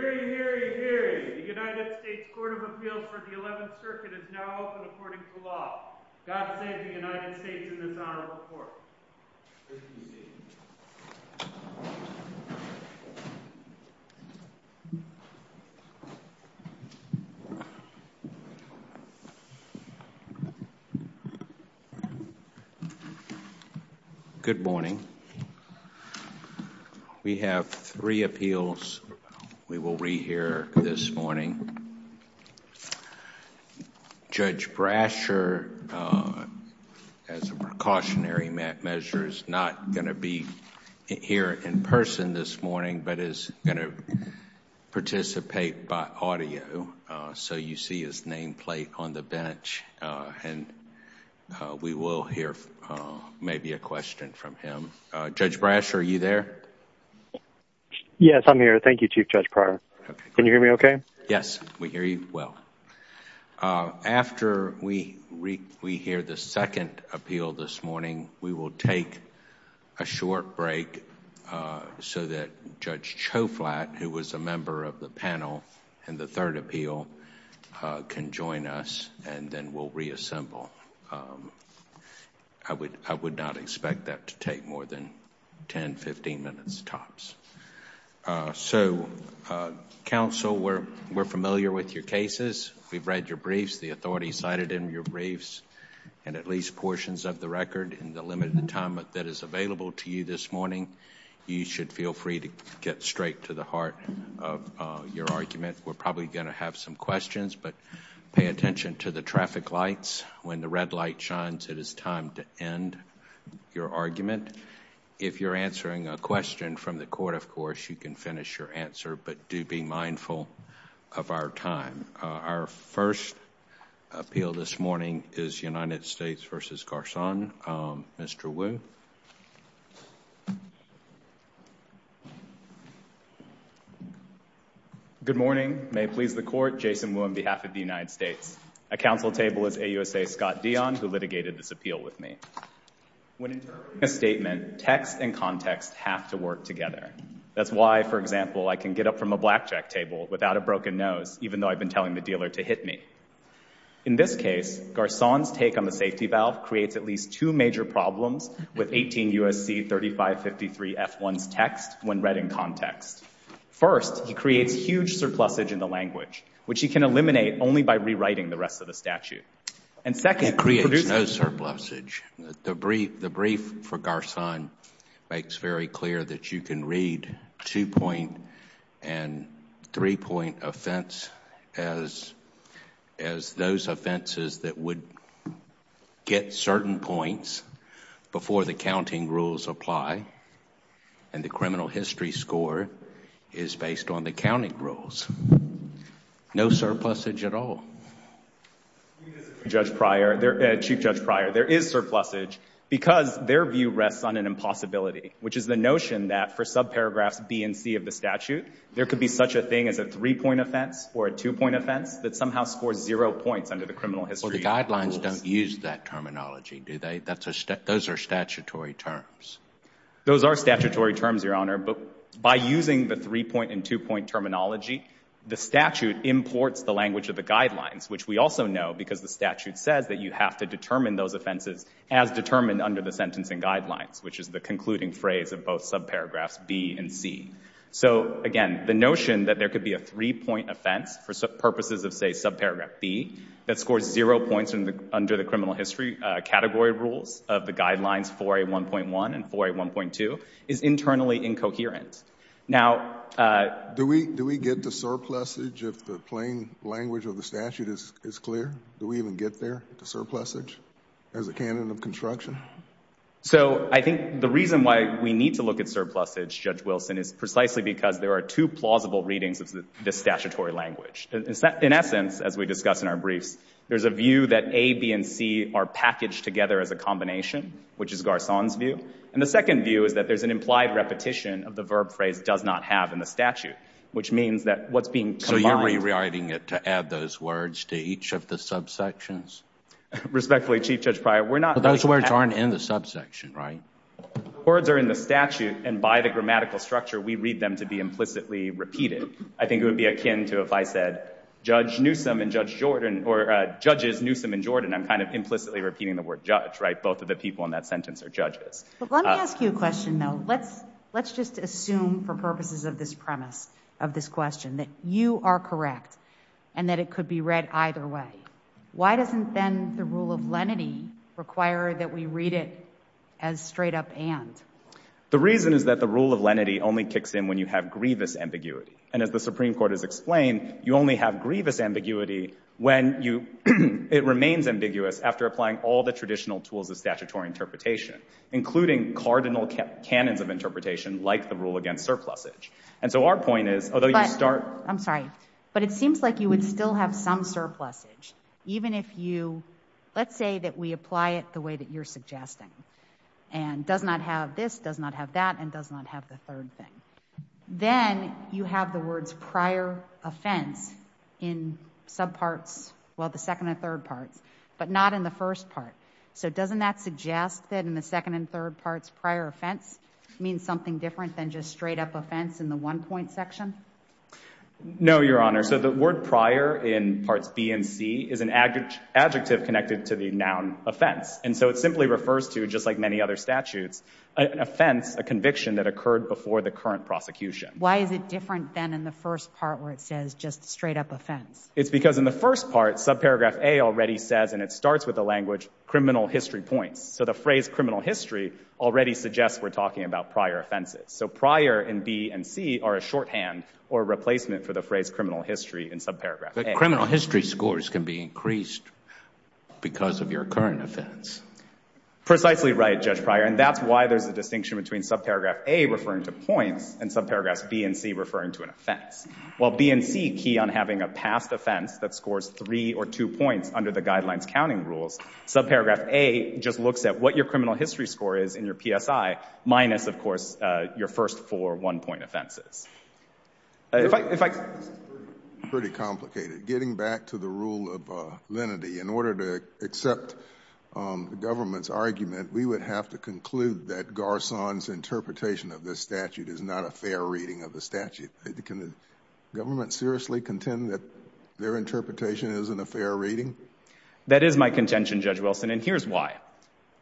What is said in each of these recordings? The United States Court of Appeals for the 11th Circuit is now open according to law. God save the United States in this honorable court. Good morning. We have three appeals we will re-hear this morning. Judge Brasher, as a precautionary measure, is not going to be here in person this morning but is going to participate by audio. So you see his nameplate on the bench and we will hear maybe a question from him. Judge Brasher, are you there? Yes, I'm here. Thank you, Chief Judge Pryor. Can you hear me okay? Yes, we hear you well. After we hear the second appeal this morning, we will take a short break so that Judge Choflat, who was a member of the panel in the third appeal, can join us and then we'll reassemble. I would not expect that to take more than ten, fifteen minutes tops. So, counsel, we're familiar with your cases. We've read your briefs. The authorities cited in your briefs and at least portions of the record in the limited time that is available to you this morning. You should feel free to get straight to the heart of your argument. We're probably going to have some questions but pay attention to the traffic lights. When the red light shines, it is time to end your argument. If you're answering a question from the court, of course, you can finish your answer, but do be mindful of our time. Our first appeal this morning is United States v. Garçon. Mr. Wu. Good morning. May it please the court, Jason Wu on behalf of the United States. At counsel table is AUSA Scott Dion, who litigated this appeal with me. When interpreting a statement, text and context have to work together. That's why, for example, I can get up from a blackjack table without a broken nose, even though I've been telling the dealer to hit me. In this case, Garçon's take on the safety valve creates at least two major problems with 18 U.S.C. 3553 F1's text when read in context. First, he creates huge surplusage in the language, which he can eliminate only by rewriting the rest of the statute. It creates no surplusage. The brief for Garçon makes very clear that you can read two-point and three-point offense as those offenses that would get certain points before the counting rules apply, and the criminal history score is based on the counting rules. No surplusage at all. Chief Judge Pryor, there is surplusage because their view rests on an impossibility, which is the notion that for subparagraphs B and C of the statute, there could be such a thing as a three-point offense or a two-point offense that somehow scores zero points under the criminal history rules. Well, the guidelines don't use that terminology, do they? Those are statutory terms. Those are statutory terms, Your Honor, but by using the three-point and two-point terminology, the statute imports the language of the guidelines, which we also know because the statute says that you have to determine those offenses as determined under the sentencing guidelines, which is the concluding phrase of both subparagraphs B and C. So, again, the notion that there could be a three-point offense for purposes of, say, subparagraph B that scores zero points under the criminal history category rules of the guidelines 4A1.1 and 4A1.2 is internally incoherent. Now— Do we get the surplusage if the plain language of the statute is clear? Do we even get there, the surplusage, as a canon of construction? So I think the reason why we need to look at surplusage, Judge Wilson, is precisely because there are two plausible readings of this statutory language. In essence, as we discuss in our briefs, there's a view that A, B, and C are packaged together as a combination, which is Garçon's view, and the second view is that there's an implied repetition of the verb phrase does not have in the statute, which means that what's being— So you're rewriting it to add those words to each of the subsections? Respectfully, Chief Judge Pryor, we're not— But those words aren't in the subsection, right? Words are in the statute, and by the grammatical structure, we read them to be implicitly repeated. I think it would be akin to if I said, Judge Newsome and Judge Jordan, or Judges Newsome and Jordan, I'm kind of implicitly repeating the word judge, right? Both of the people in that sentence are judges. Let me ask you a question, though. Let's just assume, for purposes of this premise of this question, that you are correct and that it could be read either way. Why doesn't then the rule of lenity require that we read it as straight up and? The reason is that the rule of lenity only kicks in when you have grievous ambiguity, and as the Supreme Court has explained, you only have grievous ambiguity when it remains ambiguous after applying all the traditional tools of statutory interpretation, including cardinal canons of interpretation like the rule against surplusage. And so our point is, although you start— I'm sorry. But it seems like you would still have some surplusage, even if you— Let's say that we apply it the way that you're suggesting, and does not have this, does not have that, and does not have the third thing. Then you have the words prior offense in subparts, well, the second and third parts, but not in the first part. So doesn't that suggest that in the second and third parts, prior offense means something different than just straight up offense in the one-point section? No, Your Honor. So the word prior in parts B and C is an adjective connected to the noun offense. And so it simply refers to, just like many other statutes, an offense, a conviction that occurred before the current prosecution. Why is it different than in the first part where it says just straight up offense? It's because in the first part, subparagraph A already says, and it starts with the language criminal history points. So the phrase criminal history already suggests we're talking about prior offenses. So prior in B and C are a shorthand or replacement for the phrase criminal history in subparagraph A. But criminal history scores can be increased because of your current offense. Precisely right, Judge Pryor. And that's why there's a distinction between subparagraph A referring to points and subparagraphs B and C referring to an offense. While B and C key on having a past offense that scores three or two points under the guidelines counting rules, subparagraph A just looks at what your criminal history score is in your PSI minus, of course, your first four one-point offenses. If I— This is pretty complicated. Getting back to the rule of lenity, in order to accept the government's argument, we would have to conclude that Garcon's interpretation of this statute is not a fair reading of the statute. Can the government seriously contend that their interpretation isn't a fair reading? That is my contention, Judge Wilson, and here's why.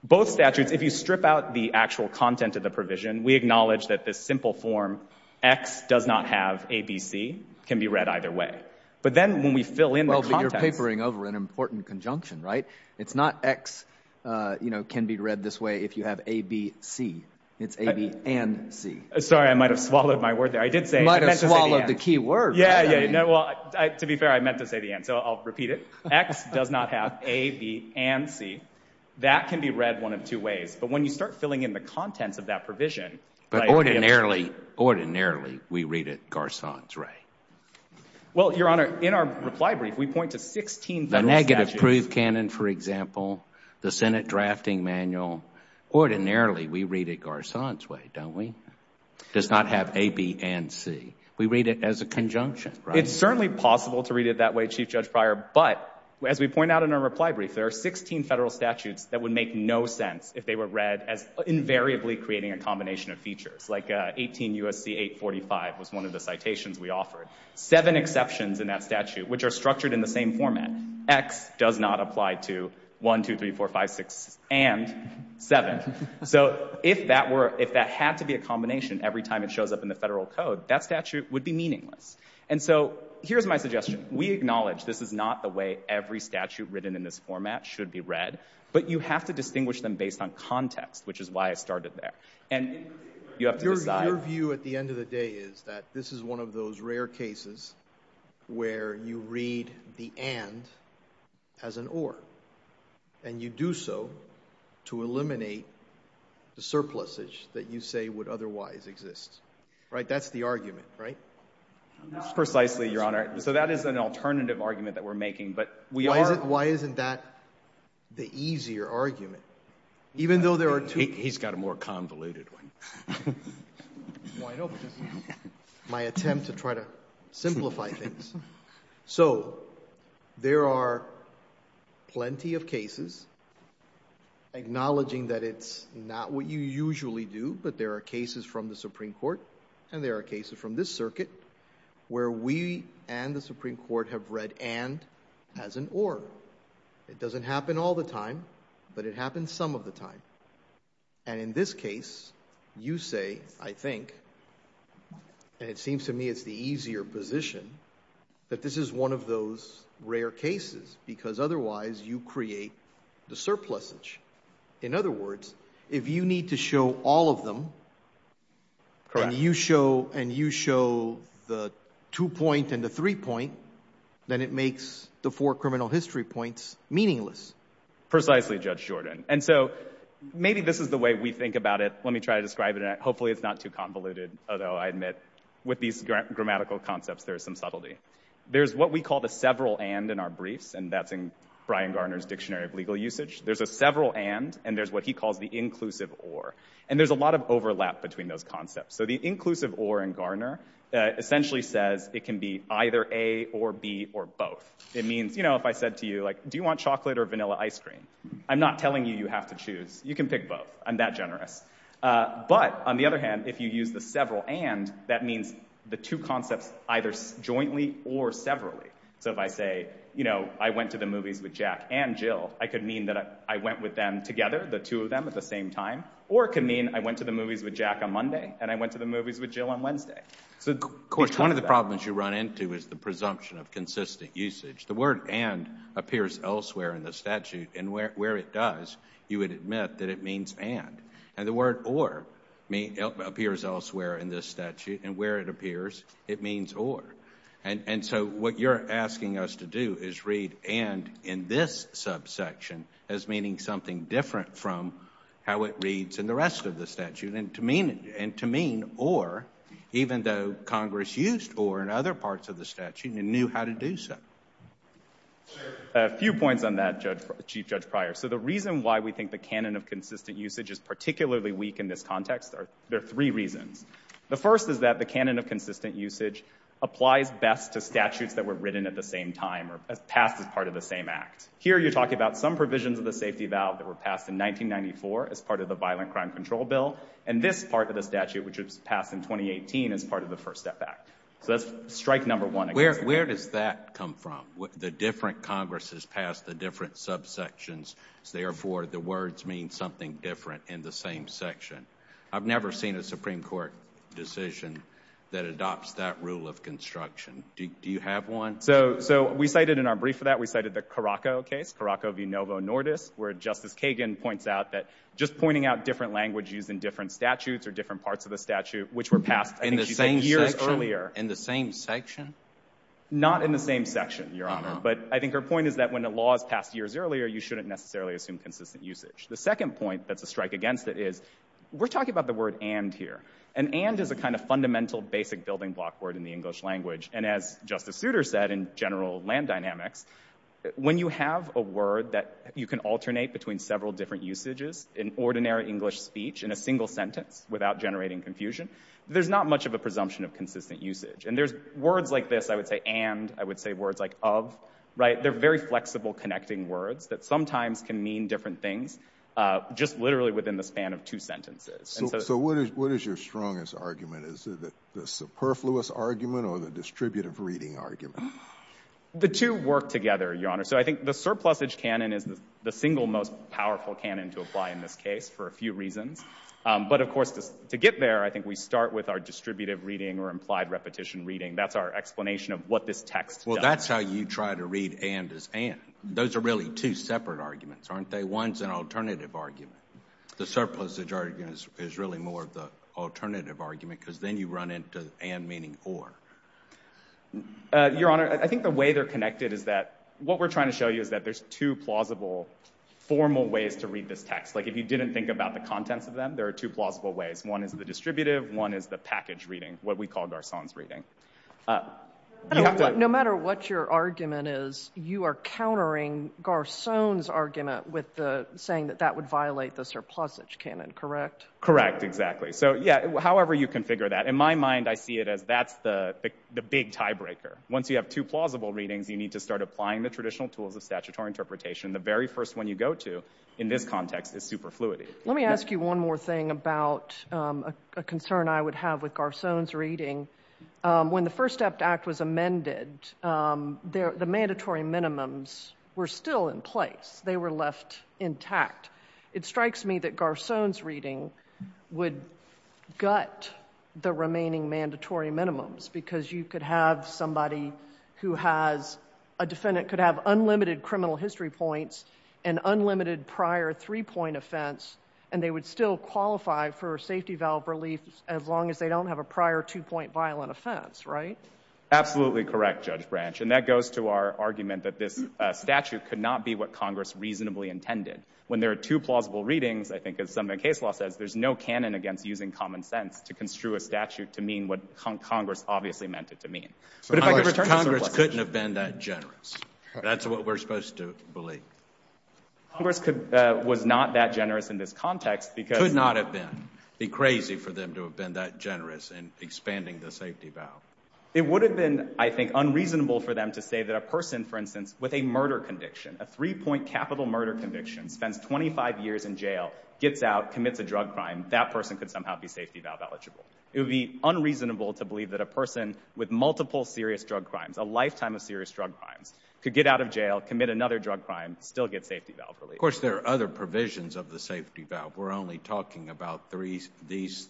Both statutes, if you strip out the actual content of the provision, we acknowledge that this simple form, X does not have ABC, can be read either way. But then when we fill in the contents— Well, but you're papering over an important conjunction, right? It's not X, you know, can be read this way if you have ABC. It's A, B, and C. Sorry, I might have swallowed my word there. I did say— Might have swallowed the key word. Yeah, yeah. Well, to be fair, I meant to say the end, so I'll repeat it. X does not have A, B, and C. That can be read one of two ways. But when you start filling in the contents of that provision— But ordinarily, ordinarily, we read it Garcon's way. Well, Your Honor, in our reply brief, we point to 16 federal statutes— for example, the Senate Drafting Manual. Ordinarily, we read it Garcon's way, don't we? Does not have A, B, and C. We read it as a conjunction, right? It's certainly possible to read it that way, Chief Judge Pryor. But as we point out in our reply brief, there are 16 federal statutes that would make no sense if they were read as invariably creating a combination of features. Like 18 U.S.C. 845 was one of the citations we offered. Seven exceptions in that statute, which are structured in the same format. X does not apply to 1, 2, 3, 4, 5, 6, and 7. So if that had to be a combination every time it shows up in the federal code, that statute would be meaningless. And so here's my suggestion. We acknowledge this is not the way every statute written in this format should be read. But you have to distinguish them based on context, which is why I started there. And you have to decide— This is one of those rare cases where you read the and as an or. And you do so to eliminate the surpluses that you say would otherwise exist. Right? That's the argument, right? Precisely, Your Honor. So that is an alternative argument that we're making, but we are— Why isn't that the easier argument? Even though there are two— He's got a more convoluted one. It's wide open. My attempt to try to simplify things. So there are plenty of cases acknowledging that it's not what you usually do, but there are cases from the Supreme Court and there are cases from this circuit where we and the Supreme Court have read and as an or. It doesn't happen all the time, but it happens some of the time. And in this case, you say, I think, and it seems to me it's the easier position, that this is one of those rare cases because otherwise you create the surplusage. In other words, if you need to show all of them and you show the two-point and the three-point, then it makes the four criminal history points meaningless. Precisely, Judge Jordan. And so maybe this is the way we think about it. Let me try to describe it. Hopefully it's not too convoluted, although I admit with these grammatical concepts, there is some subtlety. There's what we call the several and in our briefs, and that's in Brian Garner's Dictionary of Legal Usage. There's a several and and there's what he calls the inclusive or. And there's a lot of overlap between those concepts. So the inclusive or in Garner essentially says it can be either A or B or both. It means, you know, if I said to you, do you want chocolate or vanilla ice cream? I'm not telling you you have to choose. You can pick both. I'm that generous. But on the other hand, if you use the several and, that means the two concepts either jointly or severally. So if I say, you know, I went to the movies with Jack and Jill, I could mean that I went with them together, the two of them at the same time, or it could mean I went to the movies with Jack on Monday and I went to the movies with Jill on Wednesday. Of course, one of the problems you run into is the presumption of consistent usage. The word and appears elsewhere in the statute. And where it does, you would admit that it means and. And the word or appears elsewhere in this statute. And where it appears, it means or. And so what you're asking us to do is read and in this subsection as meaning something different from how it reads in the rest of the statute. And to mean or, even though Congress used or in other parts of the statute and knew how to do so. I have a few points on that, Chief Judge Pryor. So the reason why we think the canon of consistent usage is particularly weak in this context, there are three reasons. The first is that the canon of consistent usage applies best to statutes that were written at the same time or passed as part of the same act. Here you're talking about some provisions of the safety valve that were passed in 1994 as part of the Violent Crime Control Bill. And this part of the statute, which was passed in 2018, is part of the First Step Act. So that's strike number one. Where does that come from? The different Congresses passed the different subsections. Therefore, the words mean something different in the same section. I've never seen a Supreme Court decision that adopts that rule of construction. Do you have one? So we cited in our brief for that, we cited the Caraco case, Caraco v. Novo Nordis, where Justice Kagan points out that just pointing out different languages in different statutes or different parts of the statute, which were passed, I think she said, years earlier. In the same section? Not in the same section, Your Honor. But I think her point is that when a law is passed years earlier, you shouldn't necessarily assume consistent usage. The second point that's a strike against it is, we're talking about the word and here. And and is a kind of fundamental basic building block word in the English language. And as Justice Souter said in general land dynamics, when you have a word that you can alternate between several different usages in ordinary English speech in a single sentence without generating confusion, there's not much of a presumption of consistent usage. And there's words like this, I would say, and I would say words like of, right? They're very flexible, connecting words that sometimes can mean different things, just literally within the span of two sentences. So what is what is your strongest argument? Is it the superfluous argument or the distributive reading argument? The two work together, Your Honor. So I think the surplusage canon is the single most powerful canon to apply in this case, for a few reasons. But of course, to get there, I think we start with our distributive reading or implied repetition reading. That's our explanation of what this text does. Well, that's how you try to read and as and. Those are really two separate arguments, aren't they? One's an alternative argument. The surplusage argument is really more of the alternative argument because then you run into and meaning or. Your Honor, I think the way they're connected is that what we're trying to show you is that there's two plausible formal ways to read this text. Like if you didn't think about the contents of them, there are two plausible ways. One is the distributive, one is the package reading, what we call Garcon's reading. No matter what your argument is, you are countering Garcon's argument with the saying that that would violate the surplusage canon, correct? Correct, exactly. So yeah, however you configure that. In my mind, I see it as that's the big tiebreaker. Once you have two plausible readings, you need to start applying the traditional tools of statutory interpretation. The very first one you go to in this context is superfluity. Let me ask you one more thing about a concern I would have with Garcon's reading. When the First Act was amended, the mandatory minimums were still in place. They were left intact. It strikes me that Garcon's reading would gut the remaining mandatory minimums because you could have somebody who has, a defendant could have unlimited criminal history points and unlimited prior three-point offense and they would still qualify for safety valve relief as long as they don't have a prior two-point violent offense, right? Absolutely correct, Judge Branch. And that goes to our argument that this statute could not be what Congress reasonably intended. When there are two plausible readings, I think as some of the case law says, there's no canon against using common sense to construe a statute to mean what Congress obviously meant it to mean. Congress couldn't have been that generous. That's what we're supposed to believe. Congress was not that generous in this context because— Could not have been. It would be crazy for them to have been that generous in expanding the safety valve. It would have been, I think, unreasonable for them to say that a person, for instance, with a murder conviction, a three-point capital murder conviction, spends 25 years in jail, gets out, commits a drug crime, that person could somehow be safety valve eligible. It would be unreasonable to believe that a person with multiple serious drug crimes, a lifetime of serious drug crimes, could get out of jail, commit another drug crime, still get safety valve relief. Of course, there are other provisions of the safety valve. We're only talking about these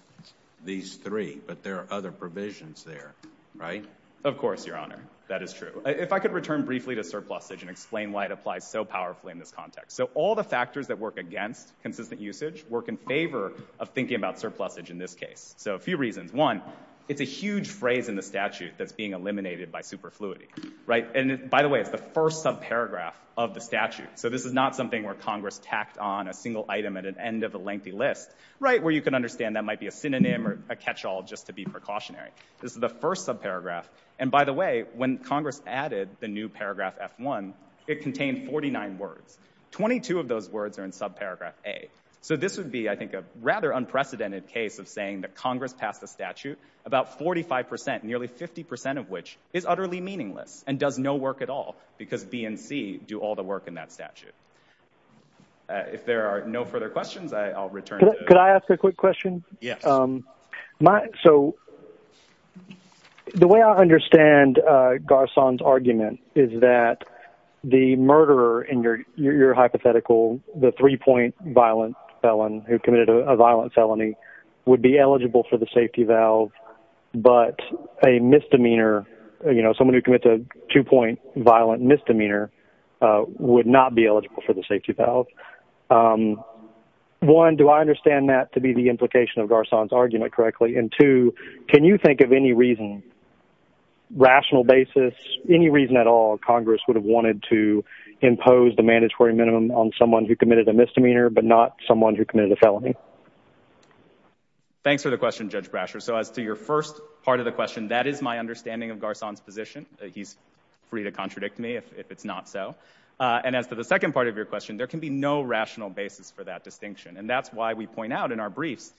three, but there are other provisions there, right? Of course, Your Honor, that is true. If I could return briefly to surplusage and explain why it applies so powerfully in this context. All the factors that work against consistent usage work in favor of thinking about surplusage in this case. A few reasons. One, it's a huge phrase in the statute that's being eliminated by superfluity. By the way, it's the first subparagraph of the statute. This is not something where Congress tacked on a single item at the end of a lengthy list, where you can understand that might be a synonym or a catch-all just to be precautionary. This is the first subparagraph. And by the way, when Congress added the new paragraph F-1, it contained 49 words. Twenty-two of those words are in subparagraph A. So this would be, I think, a rather unprecedented case of saying that Congress passed a statute, about 45%, nearly 50% of which is utterly meaningless and does no work at all because B and C do all the work in that statute. If there are no further questions, I'll return to... Could I ask a quick question? Yes. So the way I understand Garcon's argument is that the murderer in your hypothetical, the three-point violent felon who committed a violent felony, would be eligible for the safety valve, but a misdemeanor, you know, someone who committed a two-point violent misdemeanor would not be eligible for the safety valve. One, do I understand that to be the implication of Garcon's argument correctly? And two, can you think of any reason, rational basis, any reason at all Congress would have wanted to impose the mandatory minimum on someone who committed a misdemeanor but not someone who committed a felony? Thanks for the question, Judge Brasher. So as to your first part of the question, that is my understanding of Garcon's position. He's free to contradict me if it's not so. And as to the second part of your question, there can be no rational basis for that distinction. And that's why we point out in our briefs,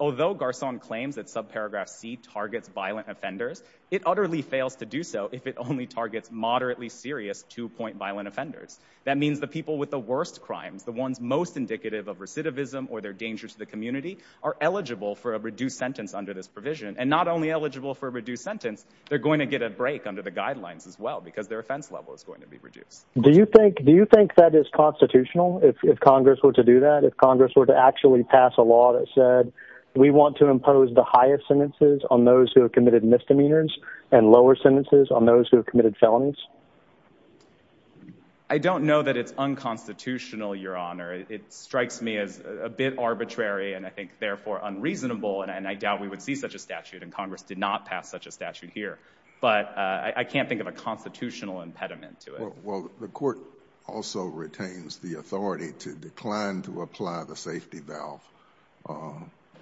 although Garcon claims that subparagraph C targets violent offenders, it utterly fails to do so if it only targets moderately serious two-point violent offenders. That means the people with the worst crimes, the ones most indicative of recidivism or their danger to the community, are eligible for a reduced sentence under this provision. And not only eligible for a reduced sentence, they're going to get a break under the guidelines as well because their offense level is going to be reduced. Do you think that is constitutional, if Congress were to do that, if Congress were to actually pass a law that said we want to impose the highest sentences on those who have committed misdemeanors and lower sentences on those who have committed felonies? I don't know that it's unconstitutional, Your Honor. It strikes me as a bit arbitrary and I think therefore unreasonable, and I doubt we would see such a statute, and Congress did not pass such a statute here. But I can't think of a constitutional impediment to it. Well, the court also retains the authority to decline to apply the safety valve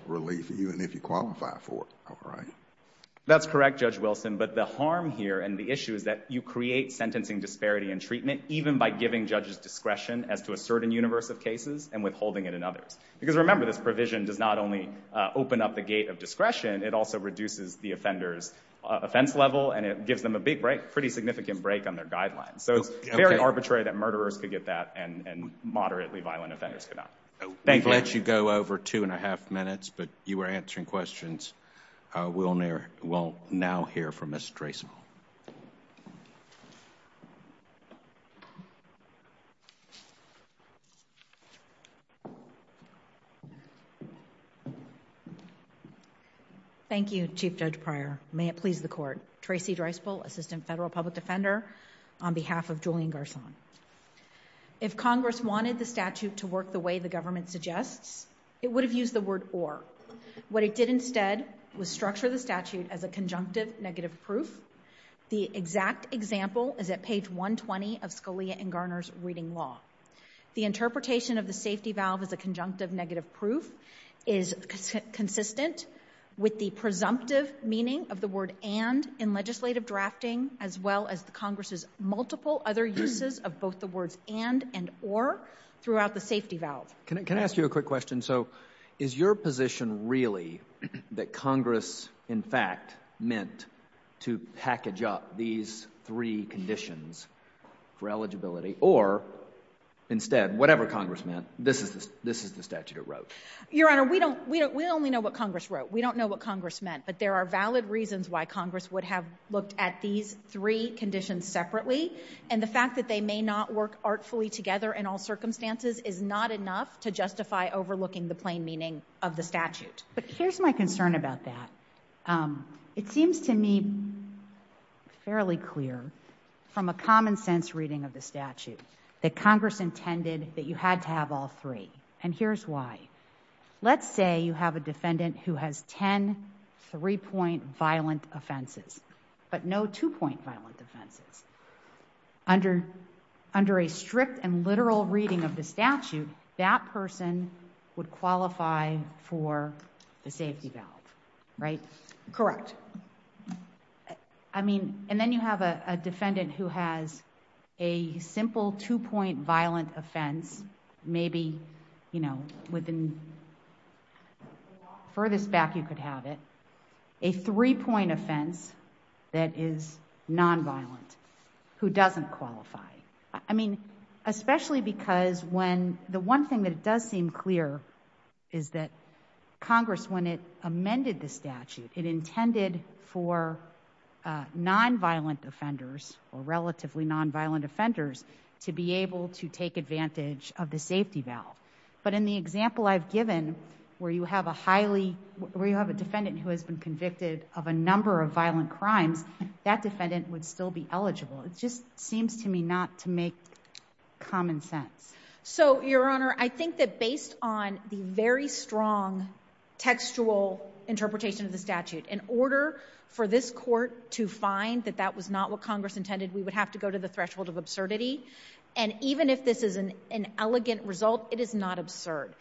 relief, even if you qualify for it, all right? That's correct, Judge Wilson, but the harm here and the issue is that you create sentencing disparity in treatment even by giving judges discretion as to a certain universe of cases and withholding it in others. Because remember, this provision does not only open up the gate of discretion, it also reduces the offender's offense level and it gives them a big break, a pretty significant break on their guidelines. So it's very arbitrary that murderers could get that and moderately violent offenders could not. Thank you. We've let you go over two and a half minutes, but you were answering questions. We'll now hear from Ms. Dreisbel. Thank you, Chief Judge Pryor. May it please the court, Tracey Dreisbel, Assistant Federal Public Defender, on behalf of Julian Garcon. If Congress wanted the statute to work the way the government suggests, it would have used the word or. What it did instead was structure the statute as a conjunctive negative proof. The exact example is at page 120 of Scalia and Garner's Reading Law. The interpretation of the safety valve as a conjunctive negative proof is consistent with the presumptive meaning of the word and in legislative drafting as well as the Congress's multiple other uses of both the words and and or throughout the safety valve. Can I ask you a quick question? So is your position really that Congress, in fact, meant to package up these three conditions for eligibility or instead, whatever Congress meant, this is the statute it wrote? Your Honor, we only know what Congress wrote. We don't know what Congress meant, but there are valid reasons why Congress would have looked at these three conditions separately and the fact that they may not work artfully together in all circumstances is not enough to justify overlooking the plain meaning of the statute. But here's my concern about that. It seems to me fairly clear from a common sense reading of the statute that Congress intended that you had to have all three and here's why. Let's say you have a defendant who has ten three-point violent offenses, but no two-point violent offenses. Under a strict and literal reading of the statute, that person would qualify for the safety valve, right? Correct. I mean, and then you have a defendant who has a simple two-point violent offense, maybe within the furthest back you could have it, a three-point offense that is nonviolent, who doesn't qualify. I mean, especially because when the one thing that does seem clear is that Congress, when it amended the statute, it intended for nonviolent offenders or relatively nonviolent offenders to be able to take advantage of the safety valve. But in the example I've given, where you have a defendant who has been convicted of a number of violent crimes, that defendant would still be eligible. It just seems to me not to make common sense. So, Your Honor, I think that based on the very strong textual interpretation of the statute, in order for this court to find that that was not what Congress intended, we would have to go to the threshold of absurdity. And even if this is an elegant result, it is not absurd.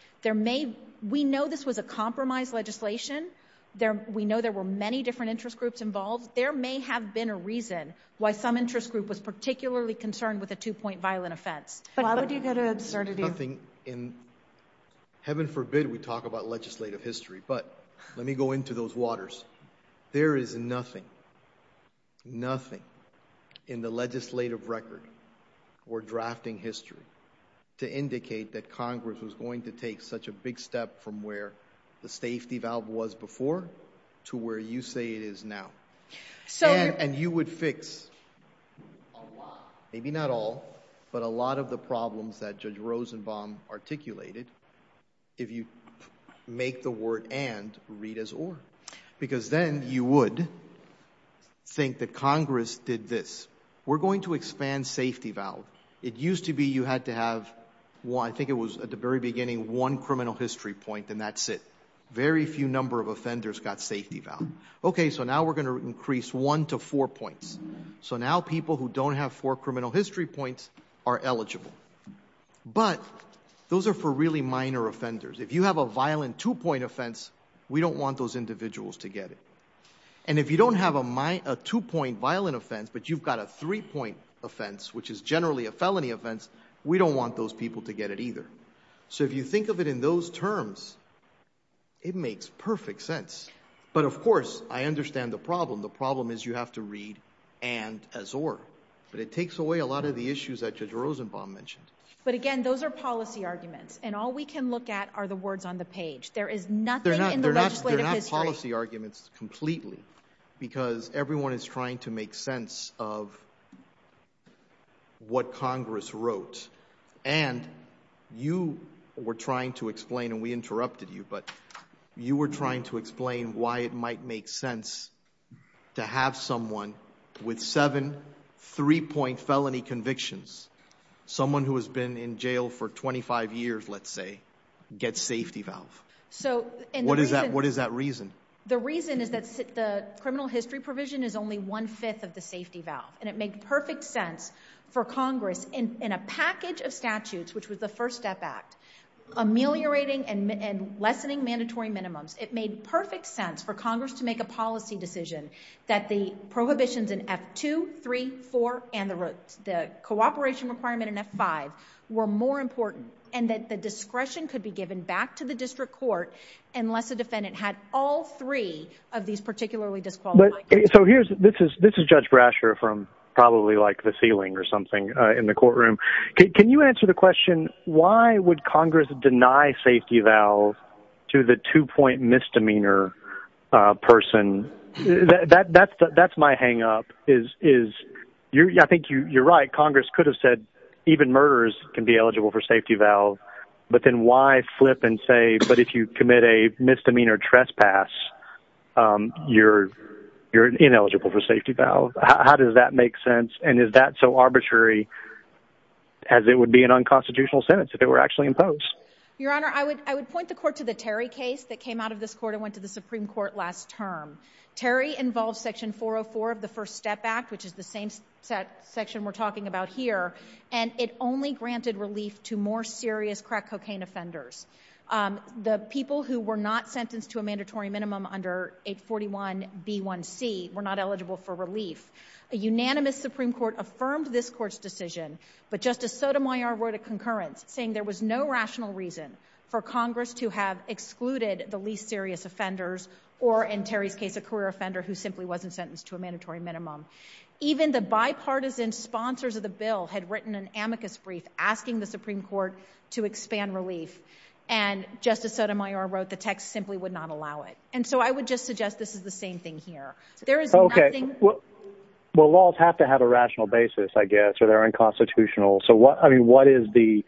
We know this was a compromise legislation. We know there were many different interest groups involved. There may have been a reason why some interest group was particularly concerned with a two-point violent offense. Why would you go to absurdity? Heaven forbid we talk about legislative history, but let me go into those waters. There is nothing, nothing in the legislative record or drafting history to indicate that Congress was going to take such a big step from where the safety valve was before to where you say it is now. And you would fix a lot, maybe not all, but a lot of the problems that Judge Rosenbaum articulated if you make the word and read as or. Because then you would think that Congress did this. We're going to expand safety valve. It used to be you had to have, I think it was at the very beginning, one criminal history point and that's it. Very few number of offenders got safety valve. Okay, so now we're going to increase one to four points. So now people who don't have four criminal history points are eligible. But those are for really minor offenders. If you have a violent two-point offense, we don't want those individuals to get it. And if you don't have a two-point violent offense, but you've got a three-point offense, which is generally a felony offense, we don't want those people to get it either. So if you think of it in those terms, it makes perfect sense. But of course, I understand the problem. The problem is you have to read and as or. But it takes away a lot of the issues that Judge Rosenbaum mentioned. But again, those are policy arguments. And all we can look at are the words on the page. There is nothing in the legislative history. They're not policy arguments completely because everyone is trying to make sense of what Congress wrote. And you were trying to explain, and we interrupted you, but you were trying to explain why it might make sense to have someone with seven three-point felony convictions, someone who has been in jail for 25 years, let's say, get safety valve. What is that reason? The reason is that the criminal history provision is only one-fifth of the safety valve. And it made perfect sense for Congress in a package of statutes, which was the First Step Act, ameliorating and lessening mandatory minimums. It made perfect sense for Congress to make a policy decision that the prohibitions in F2, 3, 4, and the cooperation requirement in F5 were more important, and that the discretion could be given back to the district court unless a defendant had all three of these particularly disqualified... So this is Judge Brasher from probably, like, the ceiling or something in the courtroom. Can you answer the question, why would Congress deny safety valve to the two-point misdemeanor person? That's my hang-up, is... I think you're right. Congress could have said even murderers can be eligible for safety valve. But then why flip and say, but if you commit a misdemeanor trespass, you're ineligible for safety valve? How does that make sense? And is that so arbitrary as it would be an unconstitutional sentence if it were actually imposed? Your Honor, I would point the court to the Terry case that came out of this court and went to the Supreme Court last term. Terry involves Section 404 of the First Step Act, which is the same section we're talking about here, and it only granted relief to more serious crack cocaine offenders. The people who were not sentenced to a mandatory minimum under 841B1C were not eligible for relief. A unanimous Supreme Court affirmed this court's decision, but Justice Sotomayor wrote a concurrence saying there was no rational reason for Congress to have excluded the least serious offenders or, in Terry's case, a career offender who simply wasn't sentenced to a mandatory minimum. Even the bipartisan sponsors of the bill had written an amicus brief asking the Supreme Court to expand relief, and Justice Sotomayor wrote the text simply would not allow it. And so I would just suggest this is the same thing here. There is nothing... Okay, well, laws have to have a rational basis, I guess, or they're unconstitutional. So, I mean, what is the...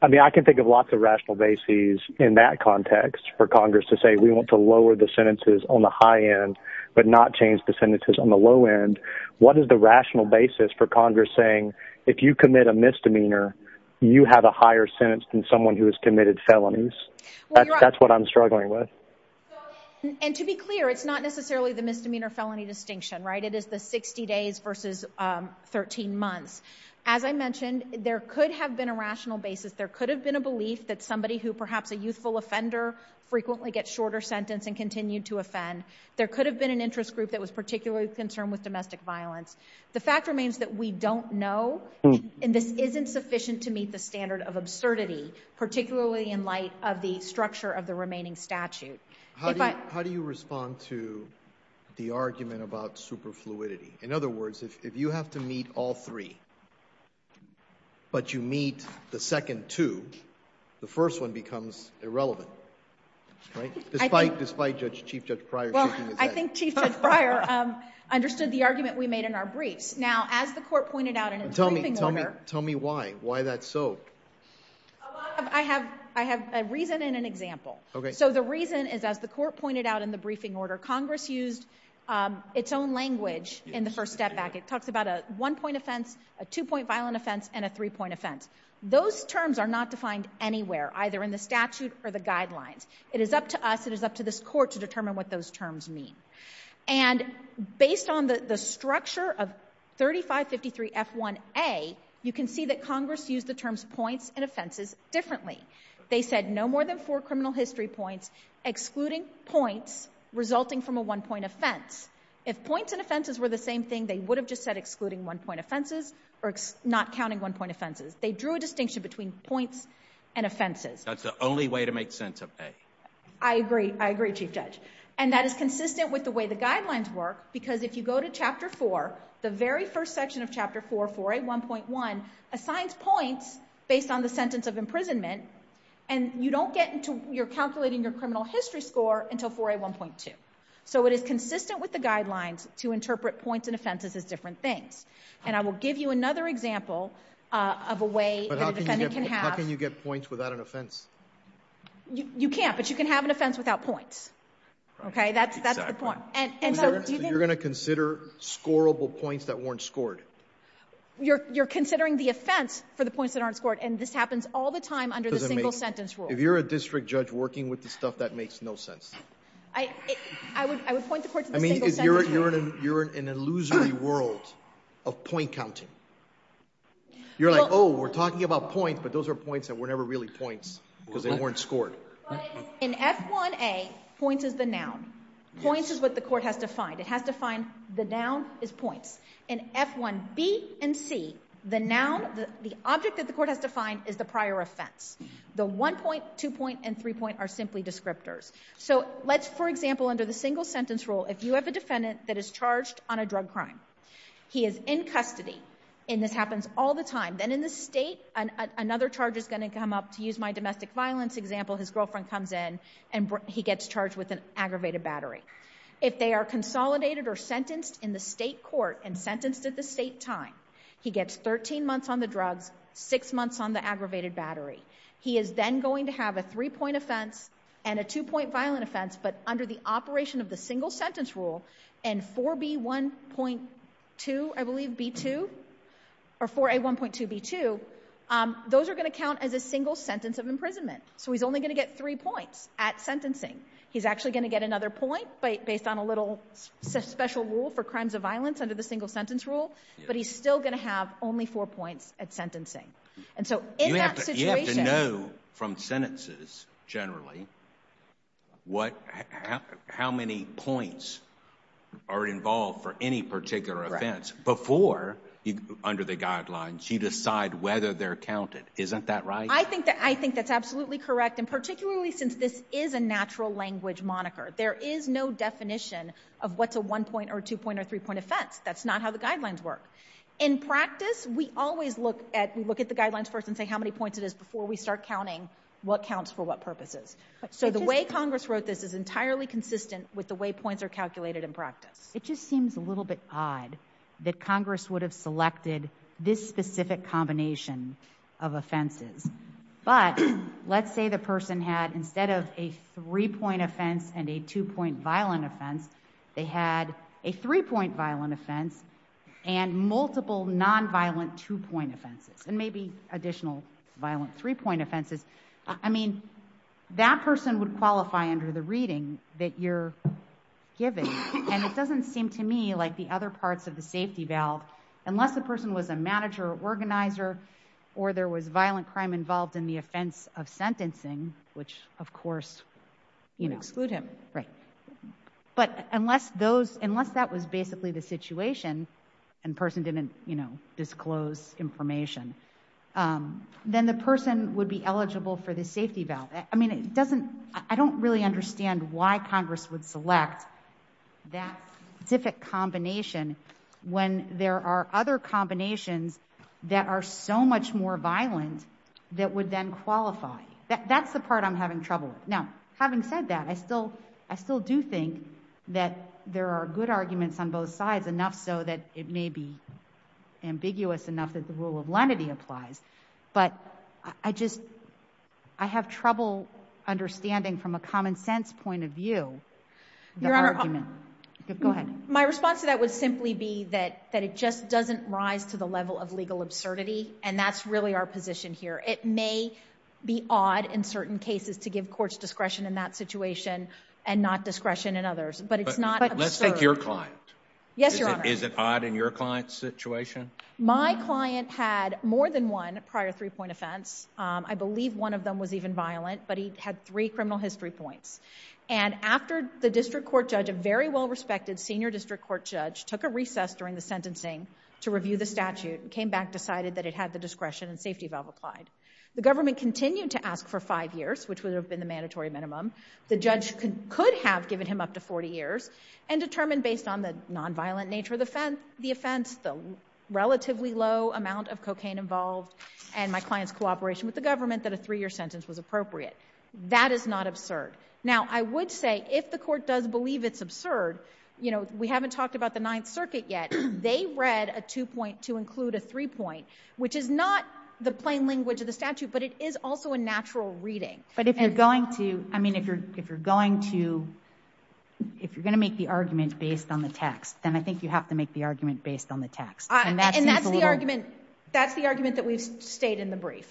I mean, I can think of lots of rational bases in that context for Congress to say we want to lower the sentences on the high end but not change the sentences on the low end. What is the rational basis for Congress saying if you commit a misdemeanor, you have a higher sentence than someone who has committed felonies? That's what I'm struggling with. And to be clear, it's not necessarily the misdemeanor-felony distinction, right? It is the 60 days versus 13 months. As I mentioned, there could have been a rational basis. There could have been a belief that somebody who perhaps a youthful offender frequently gets shorter sentence and continued to offend. There could have been an interest group that was particularly concerned with domestic violence. The fact remains that we don't know, and this isn't sufficient to meet the standard of absurdity, particularly in light of the structure of the remaining statute. If I... How do you respond to the argument about superfluidity? In other words, if you have to meet all three but you meet the second two, the first one becomes irrelevant, right? Despite Chief Judge Pryor... Well, I think Chief Judge Pryor understood the argument we made in our briefs. Now, as the court pointed out in its briefing order... Tell me why. Why that's so? I have a reason and an example. Okay. So the reason is, as the court pointed out in the briefing order, Congress used its own language in the first step back. It talks about a one-point offense, a two-point violent offense, and a three-point offense. Those terms are not defined anywhere, either in the statute or the guidelines. It is up to us, it is up to this court, to determine what those terms mean. And based on the structure of 3553F1A, you can see that Congress used the terms points and offenses differently. They said no more than four criminal history points, excluding points resulting from a one-point offense. If points and offenses were the same thing, they would have just said excluding one-point offenses or not counting one-point offenses. They drew a distinction between points and offenses. That's the only way to make sense of A. I agree. I agree, Chief Judge. And that is consistent with the way the guidelines work, because if you go to Chapter 4, the very first section of Chapter 4, 4A1.1, assigns points based on the sentence of imprisonment, and you don't get into... a criminal history score until 4A1.2. So it is consistent with the guidelines to interpret points and offenses as different things. And I will give you another example of a way that a defendant can have... But how can you get points without an offense? You can't, but you can have an offense without points. Okay? That's the point. So you're going to consider scorable points that weren't scored? You're considering the offense for the points that aren't scored, and this happens all the time under the single-sentence rule. If you're a district judge working with this stuff, that makes no sense. I would point the court to the single-sentence rule. I mean, you're in an illusory world of point counting. You're like, oh, we're talking about points, but those are points that were never really points, because they weren't scored. But in F1A, points is the noun. Points is what the court has defined. It has defined the noun as points. In F1B and C, the noun, the object that the court has defined is the prior offense. The one point, two point, and three point are simply descriptors. So let's, for example, under the single-sentence rule, if you have a defendant that is charged on a drug crime, he is in custody, and this happens all the time. Then in the state, another charge is going to come up. To use my domestic violence example, his girlfriend comes in, and he gets charged with an aggravated battery. If they are consolidated or sentenced in the state court and sentenced at the state time, he gets 13 months on the drugs, six months on the aggravated battery. He is then going to have a three-point offense and a two-point violent offense, but under the operation of the single-sentence rule, and 4B1.2, I believe, B2, or 4A1.2B2, those are going to count as a single sentence of imprisonment. So he's only going to get three points at sentencing. He's actually going to get another point based on a little special rule for crimes of violence under the single-sentence rule, but he's still going to have only four points at sentencing. And so in that situation... You have to know from sentences, generally, how many points are involved for any particular offense before, under the guidelines, you decide whether they're counted. Isn't that right? I think that's absolutely correct, and particularly since this is a natural language moniker. There is no definition of what's a one-point or a two-point or a three-point offense. That's not how the guidelines work. In practice, we always look at the guidelines first and say how many points it is before we start counting what counts for what purposes. So the way Congress wrote this is entirely consistent with the way points are calculated in practice. It just seems a little bit odd that Congress would have selected this specific combination of offenses. But let's say the person had, instead of a three-point offense and a two-point violent offense, they had a three-point violent offense and multiple nonviolent two-point offenses and maybe additional violent three-point offenses. I mean, that person would qualify under the reading that you're given, and it doesn't seem to me like the other parts of the safety valve, unless the person was a manager or organizer or there was violent crime involved in the offense of sentencing, which, of course, you know... Unless that was basically the situation and the person didn't, you know, disclose information, then the person would be eligible for the safety valve. I mean, it doesn't... I don't really understand why Congress would select that specific combination when there are other combinations that are so much more violent that would then qualify. That's the part I'm having trouble with. Now, having said that, I still do think that there are good arguments on both sides, enough so that it may be ambiguous enough that the rule of lenity applies, but I just... I have trouble understanding, from a common-sense point of view, the argument. Go ahead. My response to that would simply be that it just doesn't rise to the level of legal absurdity, and that's really our position here. It may be odd in certain cases to give courts discretion in that situation and not discretion in others, but it's not absurd. But let's take your client. Yes, Your Honor. Is it odd in your client's situation? My client had more than one prior three-point offense. I believe one of them was even violent, but he had three criminal history points. And after the district court judge, a very well-respected senior district court judge, took a recess during the sentencing to review the statute and came back, decided that it had the discretion and safety valve applied, the government continued to ask for five years, which would have been the mandatory minimum, the judge could have given him up to 40 years, and determined, based on the nonviolent nature of the offense, the relatively low amount of cocaine involved, and my client's cooperation with the government, that a three-year sentence was appropriate. That is not absurd. Now, I would say, if the court does believe it's absurd... You know, we haven't talked about the Ninth Circuit yet. They read a two-point to include a three-point, which is not the plain language of the statute, but it is also a natural reading. But if you're going to... I mean, if you're going to... If you're going to make the argument based on the text, then I think you have to make the argument based on the text. And that seems a little... And that's the argument that we've stayed in the brief.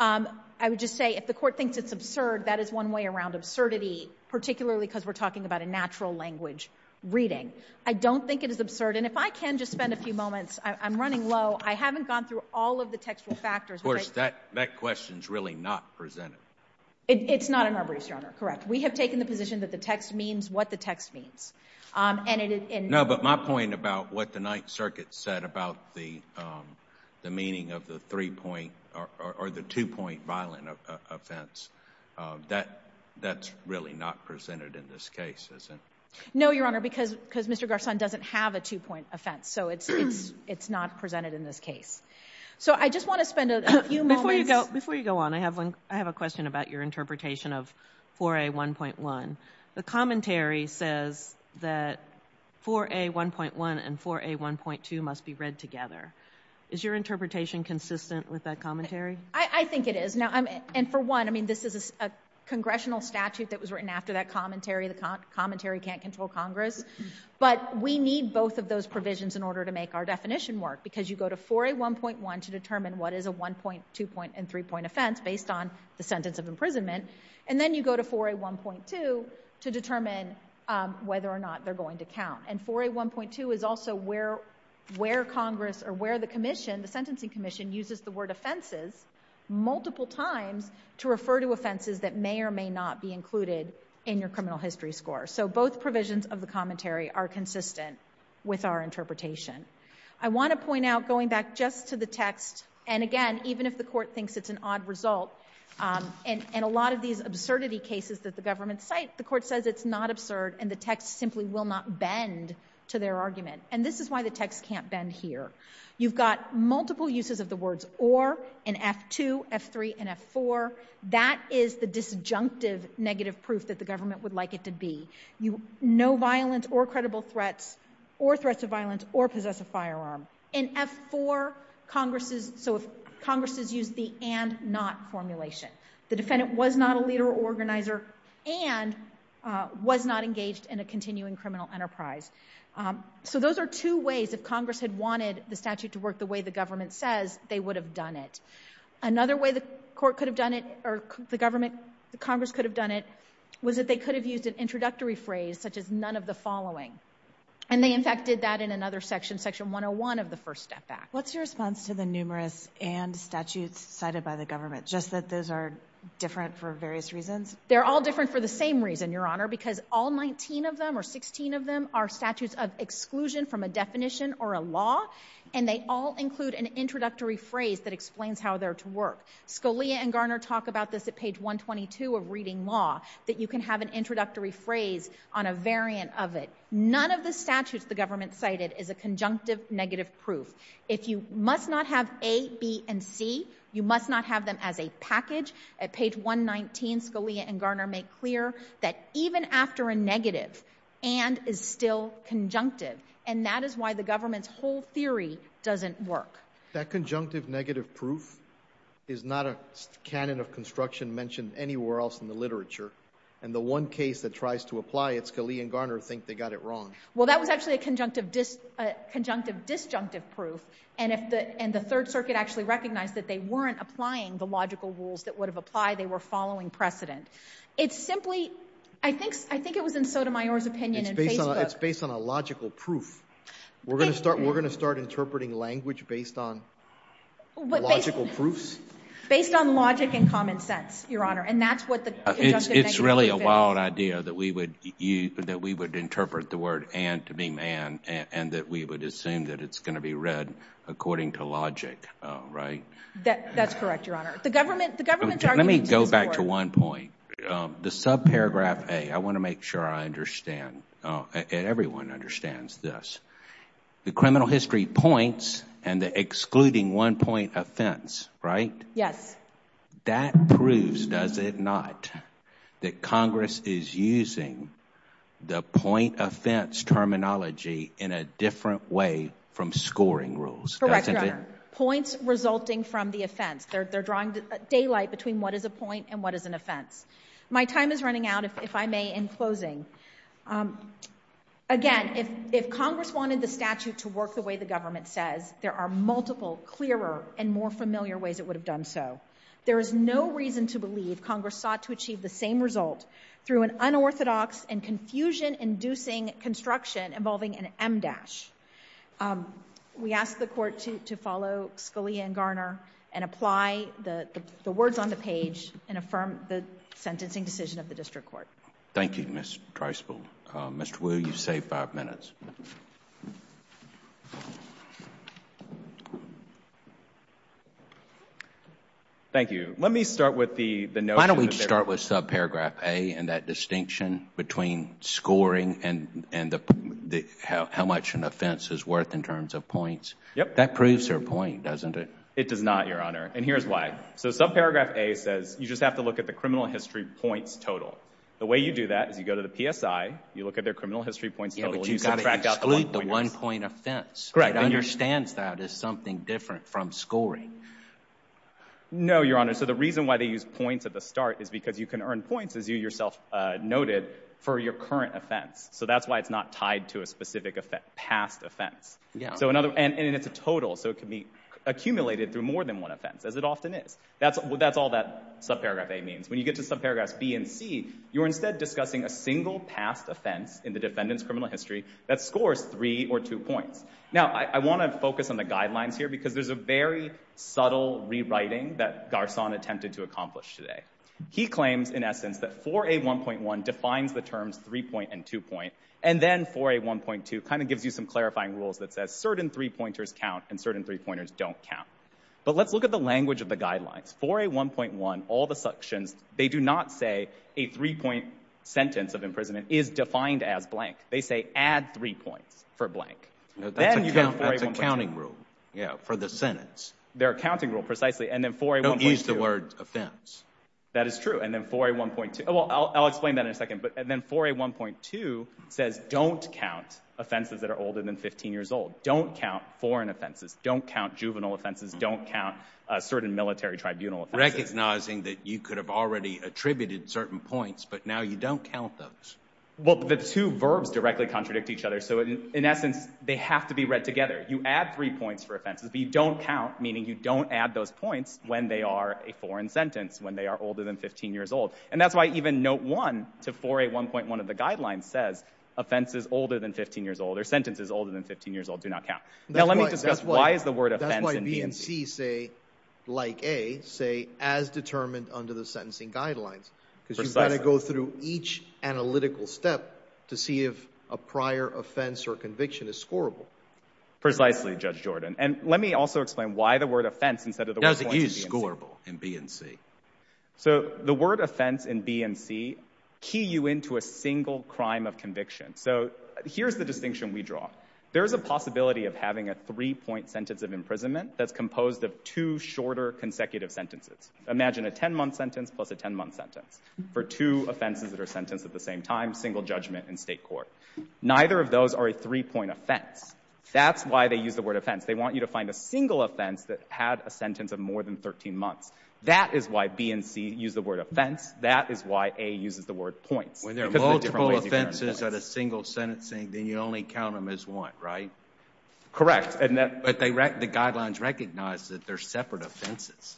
I would just say, if the court thinks it's absurd, that is one way around absurdity, particularly because we're talking about a natural language reading. I don't think it is absurd. And if I can just spend a few moments... I'm running low. I haven't gone through all of the textual factors. Of course, that question is really not presented. It's not in our briefs, Your Honor. Correct. We have taken the position that the text means what the text means. And it is... No, but my point about what the Ninth Circuit said about the meaning of the three-point or the two-point violent offense, that's really not presented in this case, is it? No, Your Honor, because Mr. Garçon doesn't have a two-point offense. So it's not presented in this case. So I just want to spend a few moments... Before you go on, I have a question about your interpretation of 4A1.1. The commentary says that 4A1.1 and 4A1.2 must be read together. Is your interpretation consistent with that commentary? I think it is. And for one, I mean, this is a congressional statute that was written after that commentary. The commentary can't control Congress. But we need both of those provisions in order to make our definition work because you go to 4A1.1 to determine what is a one-point, two-point, and three-point offense based on the sentence of imprisonment. And then you go to 4A1.2 to determine whether or not they're going to count. And 4A1.2 is also where the commission, the sentencing commission, uses the word offenses multiple times to refer to offenses that may or may not be included in your criminal history score. So both provisions of the commentary are consistent with our interpretation. I want to point out, going back just to the text, and again, even if the court thinks it's an odd result, in a lot of these absurdity cases that the government cite, the court says it's not absurd and the text simply will not bend to their argument. And this is why the text can't bend here. You've got multiple uses of the words or in F2, F3, and F4. That is the disjunctive negative proof that the government would like it to be. No violence or credible threats or threats of violence or possess a firearm. In F4, Congress has used the and-not formulation. The defendant was not a leader or organizer and was not engaged in a continuing criminal enterprise. So those are two ways if Congress had wanted the statute to work the way the government says, they would have done it. Another way the court could have done it, or the government, the Congress could have done it, was that they could have used an introductory phrase such as none of the following. And they in fact did that in another section, Section 101 of the First Step Act. What's your response to the numerous and statutes cited by the government, just that those are different for various reasons? They're all different for the same reason, Your Honor, because all 19 of them or 16 of them are statutes of exclusion from a definition or a law, and they all include an introductory phrase that explains how they're to work. Scalia and Garner talk about this at page 122 of Reading Law, that you can have an introductory phrase on a variant of it. None of the statutes the government cited is a conjunctive negative proof. If you must not have A, B, and C, you must not have them as a package. At page 119, Scalia and Garner make clear that even after a negative, and is still conjunctive. And that is why the government's whole theory doesn't work. That conjunctive negative proof is not a canon of construction mentioned anywhere else in the literature. And the one case that tries to apply it, Scalia and Garner think they got it wrong. Well, that was actually a conjunctive disjunctive proof, and the Third Circuit actually recognized that they weren't applying the logical rules that would have applied, they were following precedent. It's simply, I think it was in Sotomayor's opinion in Facebook. It's based on a logical proof. We're going to start interpreting language based on logical proofs? Based on logic and common sense, Your Honor. And that's what the conjunctive negative proof is. It's really a wild idea that we would interpret the word and to mean and, and that we would assume that it's going to be read according to logic, right? That's correct, Your Honor. Let me go back to one point. The subparagraph A, I want to make sure I understand. Everyone understands this. The criminal history points and the excluding one point offense, right? Yes. That proves, does it not, that Congress is using the point offense terminology in a different way from scoring rules, doesn't it? Correct, Your Honor. Points resulting from the offense. They're drawing daylight between what is a point and what is an offense. My time is running out, if I may, in closing. Again, if Congress wanted the statute to work the way the government says, there are multiple clearer and more familiar ways it would have done so. There is no reason to believe Congress sought to achieve the same result through an unorthodox and confusion-inducing construction involving an M-dash. We ask the Court to follow Scalia and Garner and apply the words on the page and affirm the sentencing decision of the district court. Thank you, Ms. Dreisbach. Mr. Wu, you've saved five minutes. Thank you. Let me start with the notion... Why don't we start with subparagraph A and that distinction between scoring and how much an offense is worth in terms of points? Yes. That proves their point, doesn't it? It does not, Your Honor, and here's why. Subparagraph A says you just have to look at the criminal history points total. The way you do that is you go to the PSI, you look at their criminal history points total, and you subtract out the one-point offense. You've got to exclude the one-point offense. Correct. It understands that as something different from scoring. No, Your Honor. The reason why they use points at the start is because you can earn points, as you yourself noted, for your current offense. That's why it's not tied to a specific past offense. And it's a total, so it can be accumulated through more than one offense, as it often is. That's all that subparagraph A means. When you get to subparagraphs B and C, you're instead discussing a single past offense in the defendant's criminal history that scores three or two points. Now, I want to focus on the guidelines here because there's a very subtle rewriting that Garçon attempted to accomplish today. He claims, in essence, that 4A1.1 defines the terms three-point and two-point, and then 4A1.2 kind of gives you some clarifying rules that says, certain three-pointers count and certain three-pointers don't count. But let's look at the language of the guidelines. 4A1.1, all the sections, they do not say a three-point sentence of imprisonment is defined as blank. They say add three points for blank. That's a counting rule for the sentence. They're a counting rule, precisely. And then 4A1.2. Don't use the word offense. And then 4A1.2. Well, I'll explain that in a second. But then 4A1.2 says don't count offenses that are older than 15 years old. Don't count foreign offenses. Don't count juvenile offenses. Don't count certain military tribunal offenses. Recognizing that you could have already attributed certain points, but now you don't count those. Well, the two verbs directly contradict each other. So, in essence, they have to be read together. You add three points for offenses, but you don't count, meaning you don't add those points when they are a foreign sentence, when they are older than 15 years old. And that's why even Note 1 to 4A1.1 of the guidelines says offenses older than 15 years old or sentences older than 15 years old do not count. Now let me discuss why is the word offense in BNC. That's why B and C say, like A, say as determined under the sentencing guidelines. Because you've got to go through each analytical step to see if a prior offense or conviction is scorable. Precisely, Judge Jordan. And let me also explain why the word offense instead of the word point is BNC. Does it use scorable in BNC? So the word offense in BNC key you into a single crime of conviction. So here's the distinction we draw. There's a possibility of having a three-point sentence of imprisonment that's composed of two shorter consecutive sentences. Imagine a 10-month sentence plus a 10-month sentence for two offenses that are sentenced at the same time, single judgment in state court. Neither of those are a three-point offense. That's why they use the word offense. They want you to find a single offense that had a sentence of more than 13 months. That is why B and C use the word offense. That is why A uses the word points. When there are multiple offenses at a single sentencing, then you only count them as one, right? Correct. But the guidelines recognize that they're separate offenses.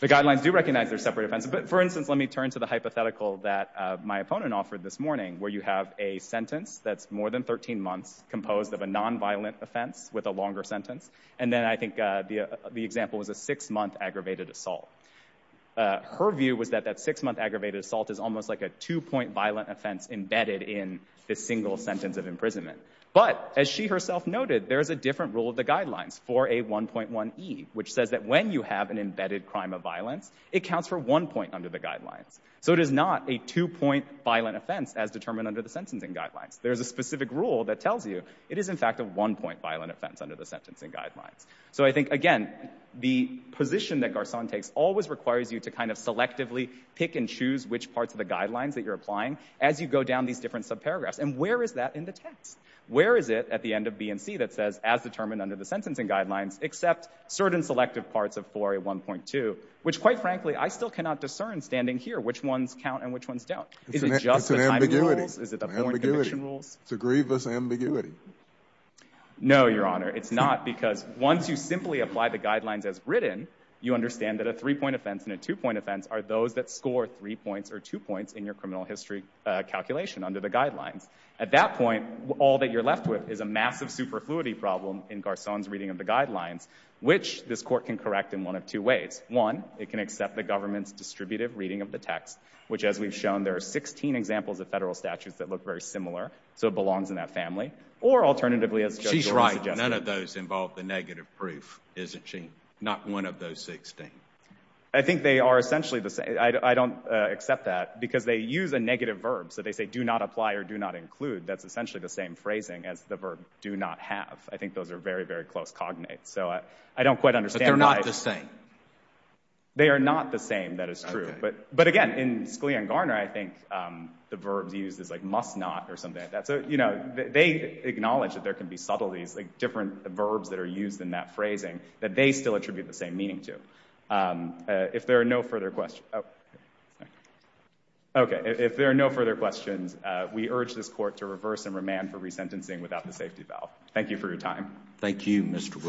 The guidelines do recognize they're separate offenses. But, for instance, let me turn to the hypothetical that my opponent offered this morning where you have a sentence that's more than 13 months composed of a nonviolent offense with a longer sentence. And then I think the example was a six-month aggravated assault. Her view was that that six-month aggravated assault is almost like a two-point violent offense embedded in the single sentence of imprisonment. But, as she herself noted, there is a different rule of the guidelines for a 1.1e, which says that when you have an embedded crime of violence, it counts for one point under the guidelines. So it is not a two-point violent offense as determined under the sentencing guidelines. There is a specific rule that tells you it is, in fact, a one-point violent offense under the sentencing guidelines. So I think, again, the position that Garçon takes always requires you to kind of selectively pick and choose which parts of the guidelines that you're applying as you go down these different subparagraphs. And where is that in the text? Where is it at the end of B and C that says, as determined under the sentencing guidelines, except certain selective parts of 4a.1.2, which, quite frankly, I still cannot discern standing here which ones count and which ones don't. Is it just the timing rules? Is it the point conviction rules? It's a grievous ambiguity. No, Your Honor. It's not, because once you simply apply the guidelines as written, you understand that a three-point offense and a two-point offense are those that score three points or two points in your criminal history calculation under the guidelines. At that point, all that you're left with is a massive superfluity problem in Garçon's reading of the guidelines, which this Court can correct in one of two ways. One, it can accept the government's distributive reading of the text, which, as we've shown, there are 16 examples of federal statutes that look very similar. So it belongs in that family. Or, alternatively, as Judge Johnson... She's right. None of those involve the negative proof, isn't she? Not one of those 16. I think they are essentially the same. I don't accept that, because they use a negative verb. So they say, do not apply or do not include. That's essentially the same phrasing as the verb do not have. I think those are very, very close cognates. So I don't quite understand why... But they're not the same. They are not the same, that is true. But, again, in Scalia and Garner, I think the verbs used is like must not or something like that. So, you know, they acknowledge that there can be subtleties, like different verbs that are used in that phrasing, that they still attribute the same meaning to. If there are no further questions... Oh. Okay, if there are no further questions, we urge this Court to reverse and remand for resentencing without the safety valve. Thank you for your time. Thank you, Mr. Wu.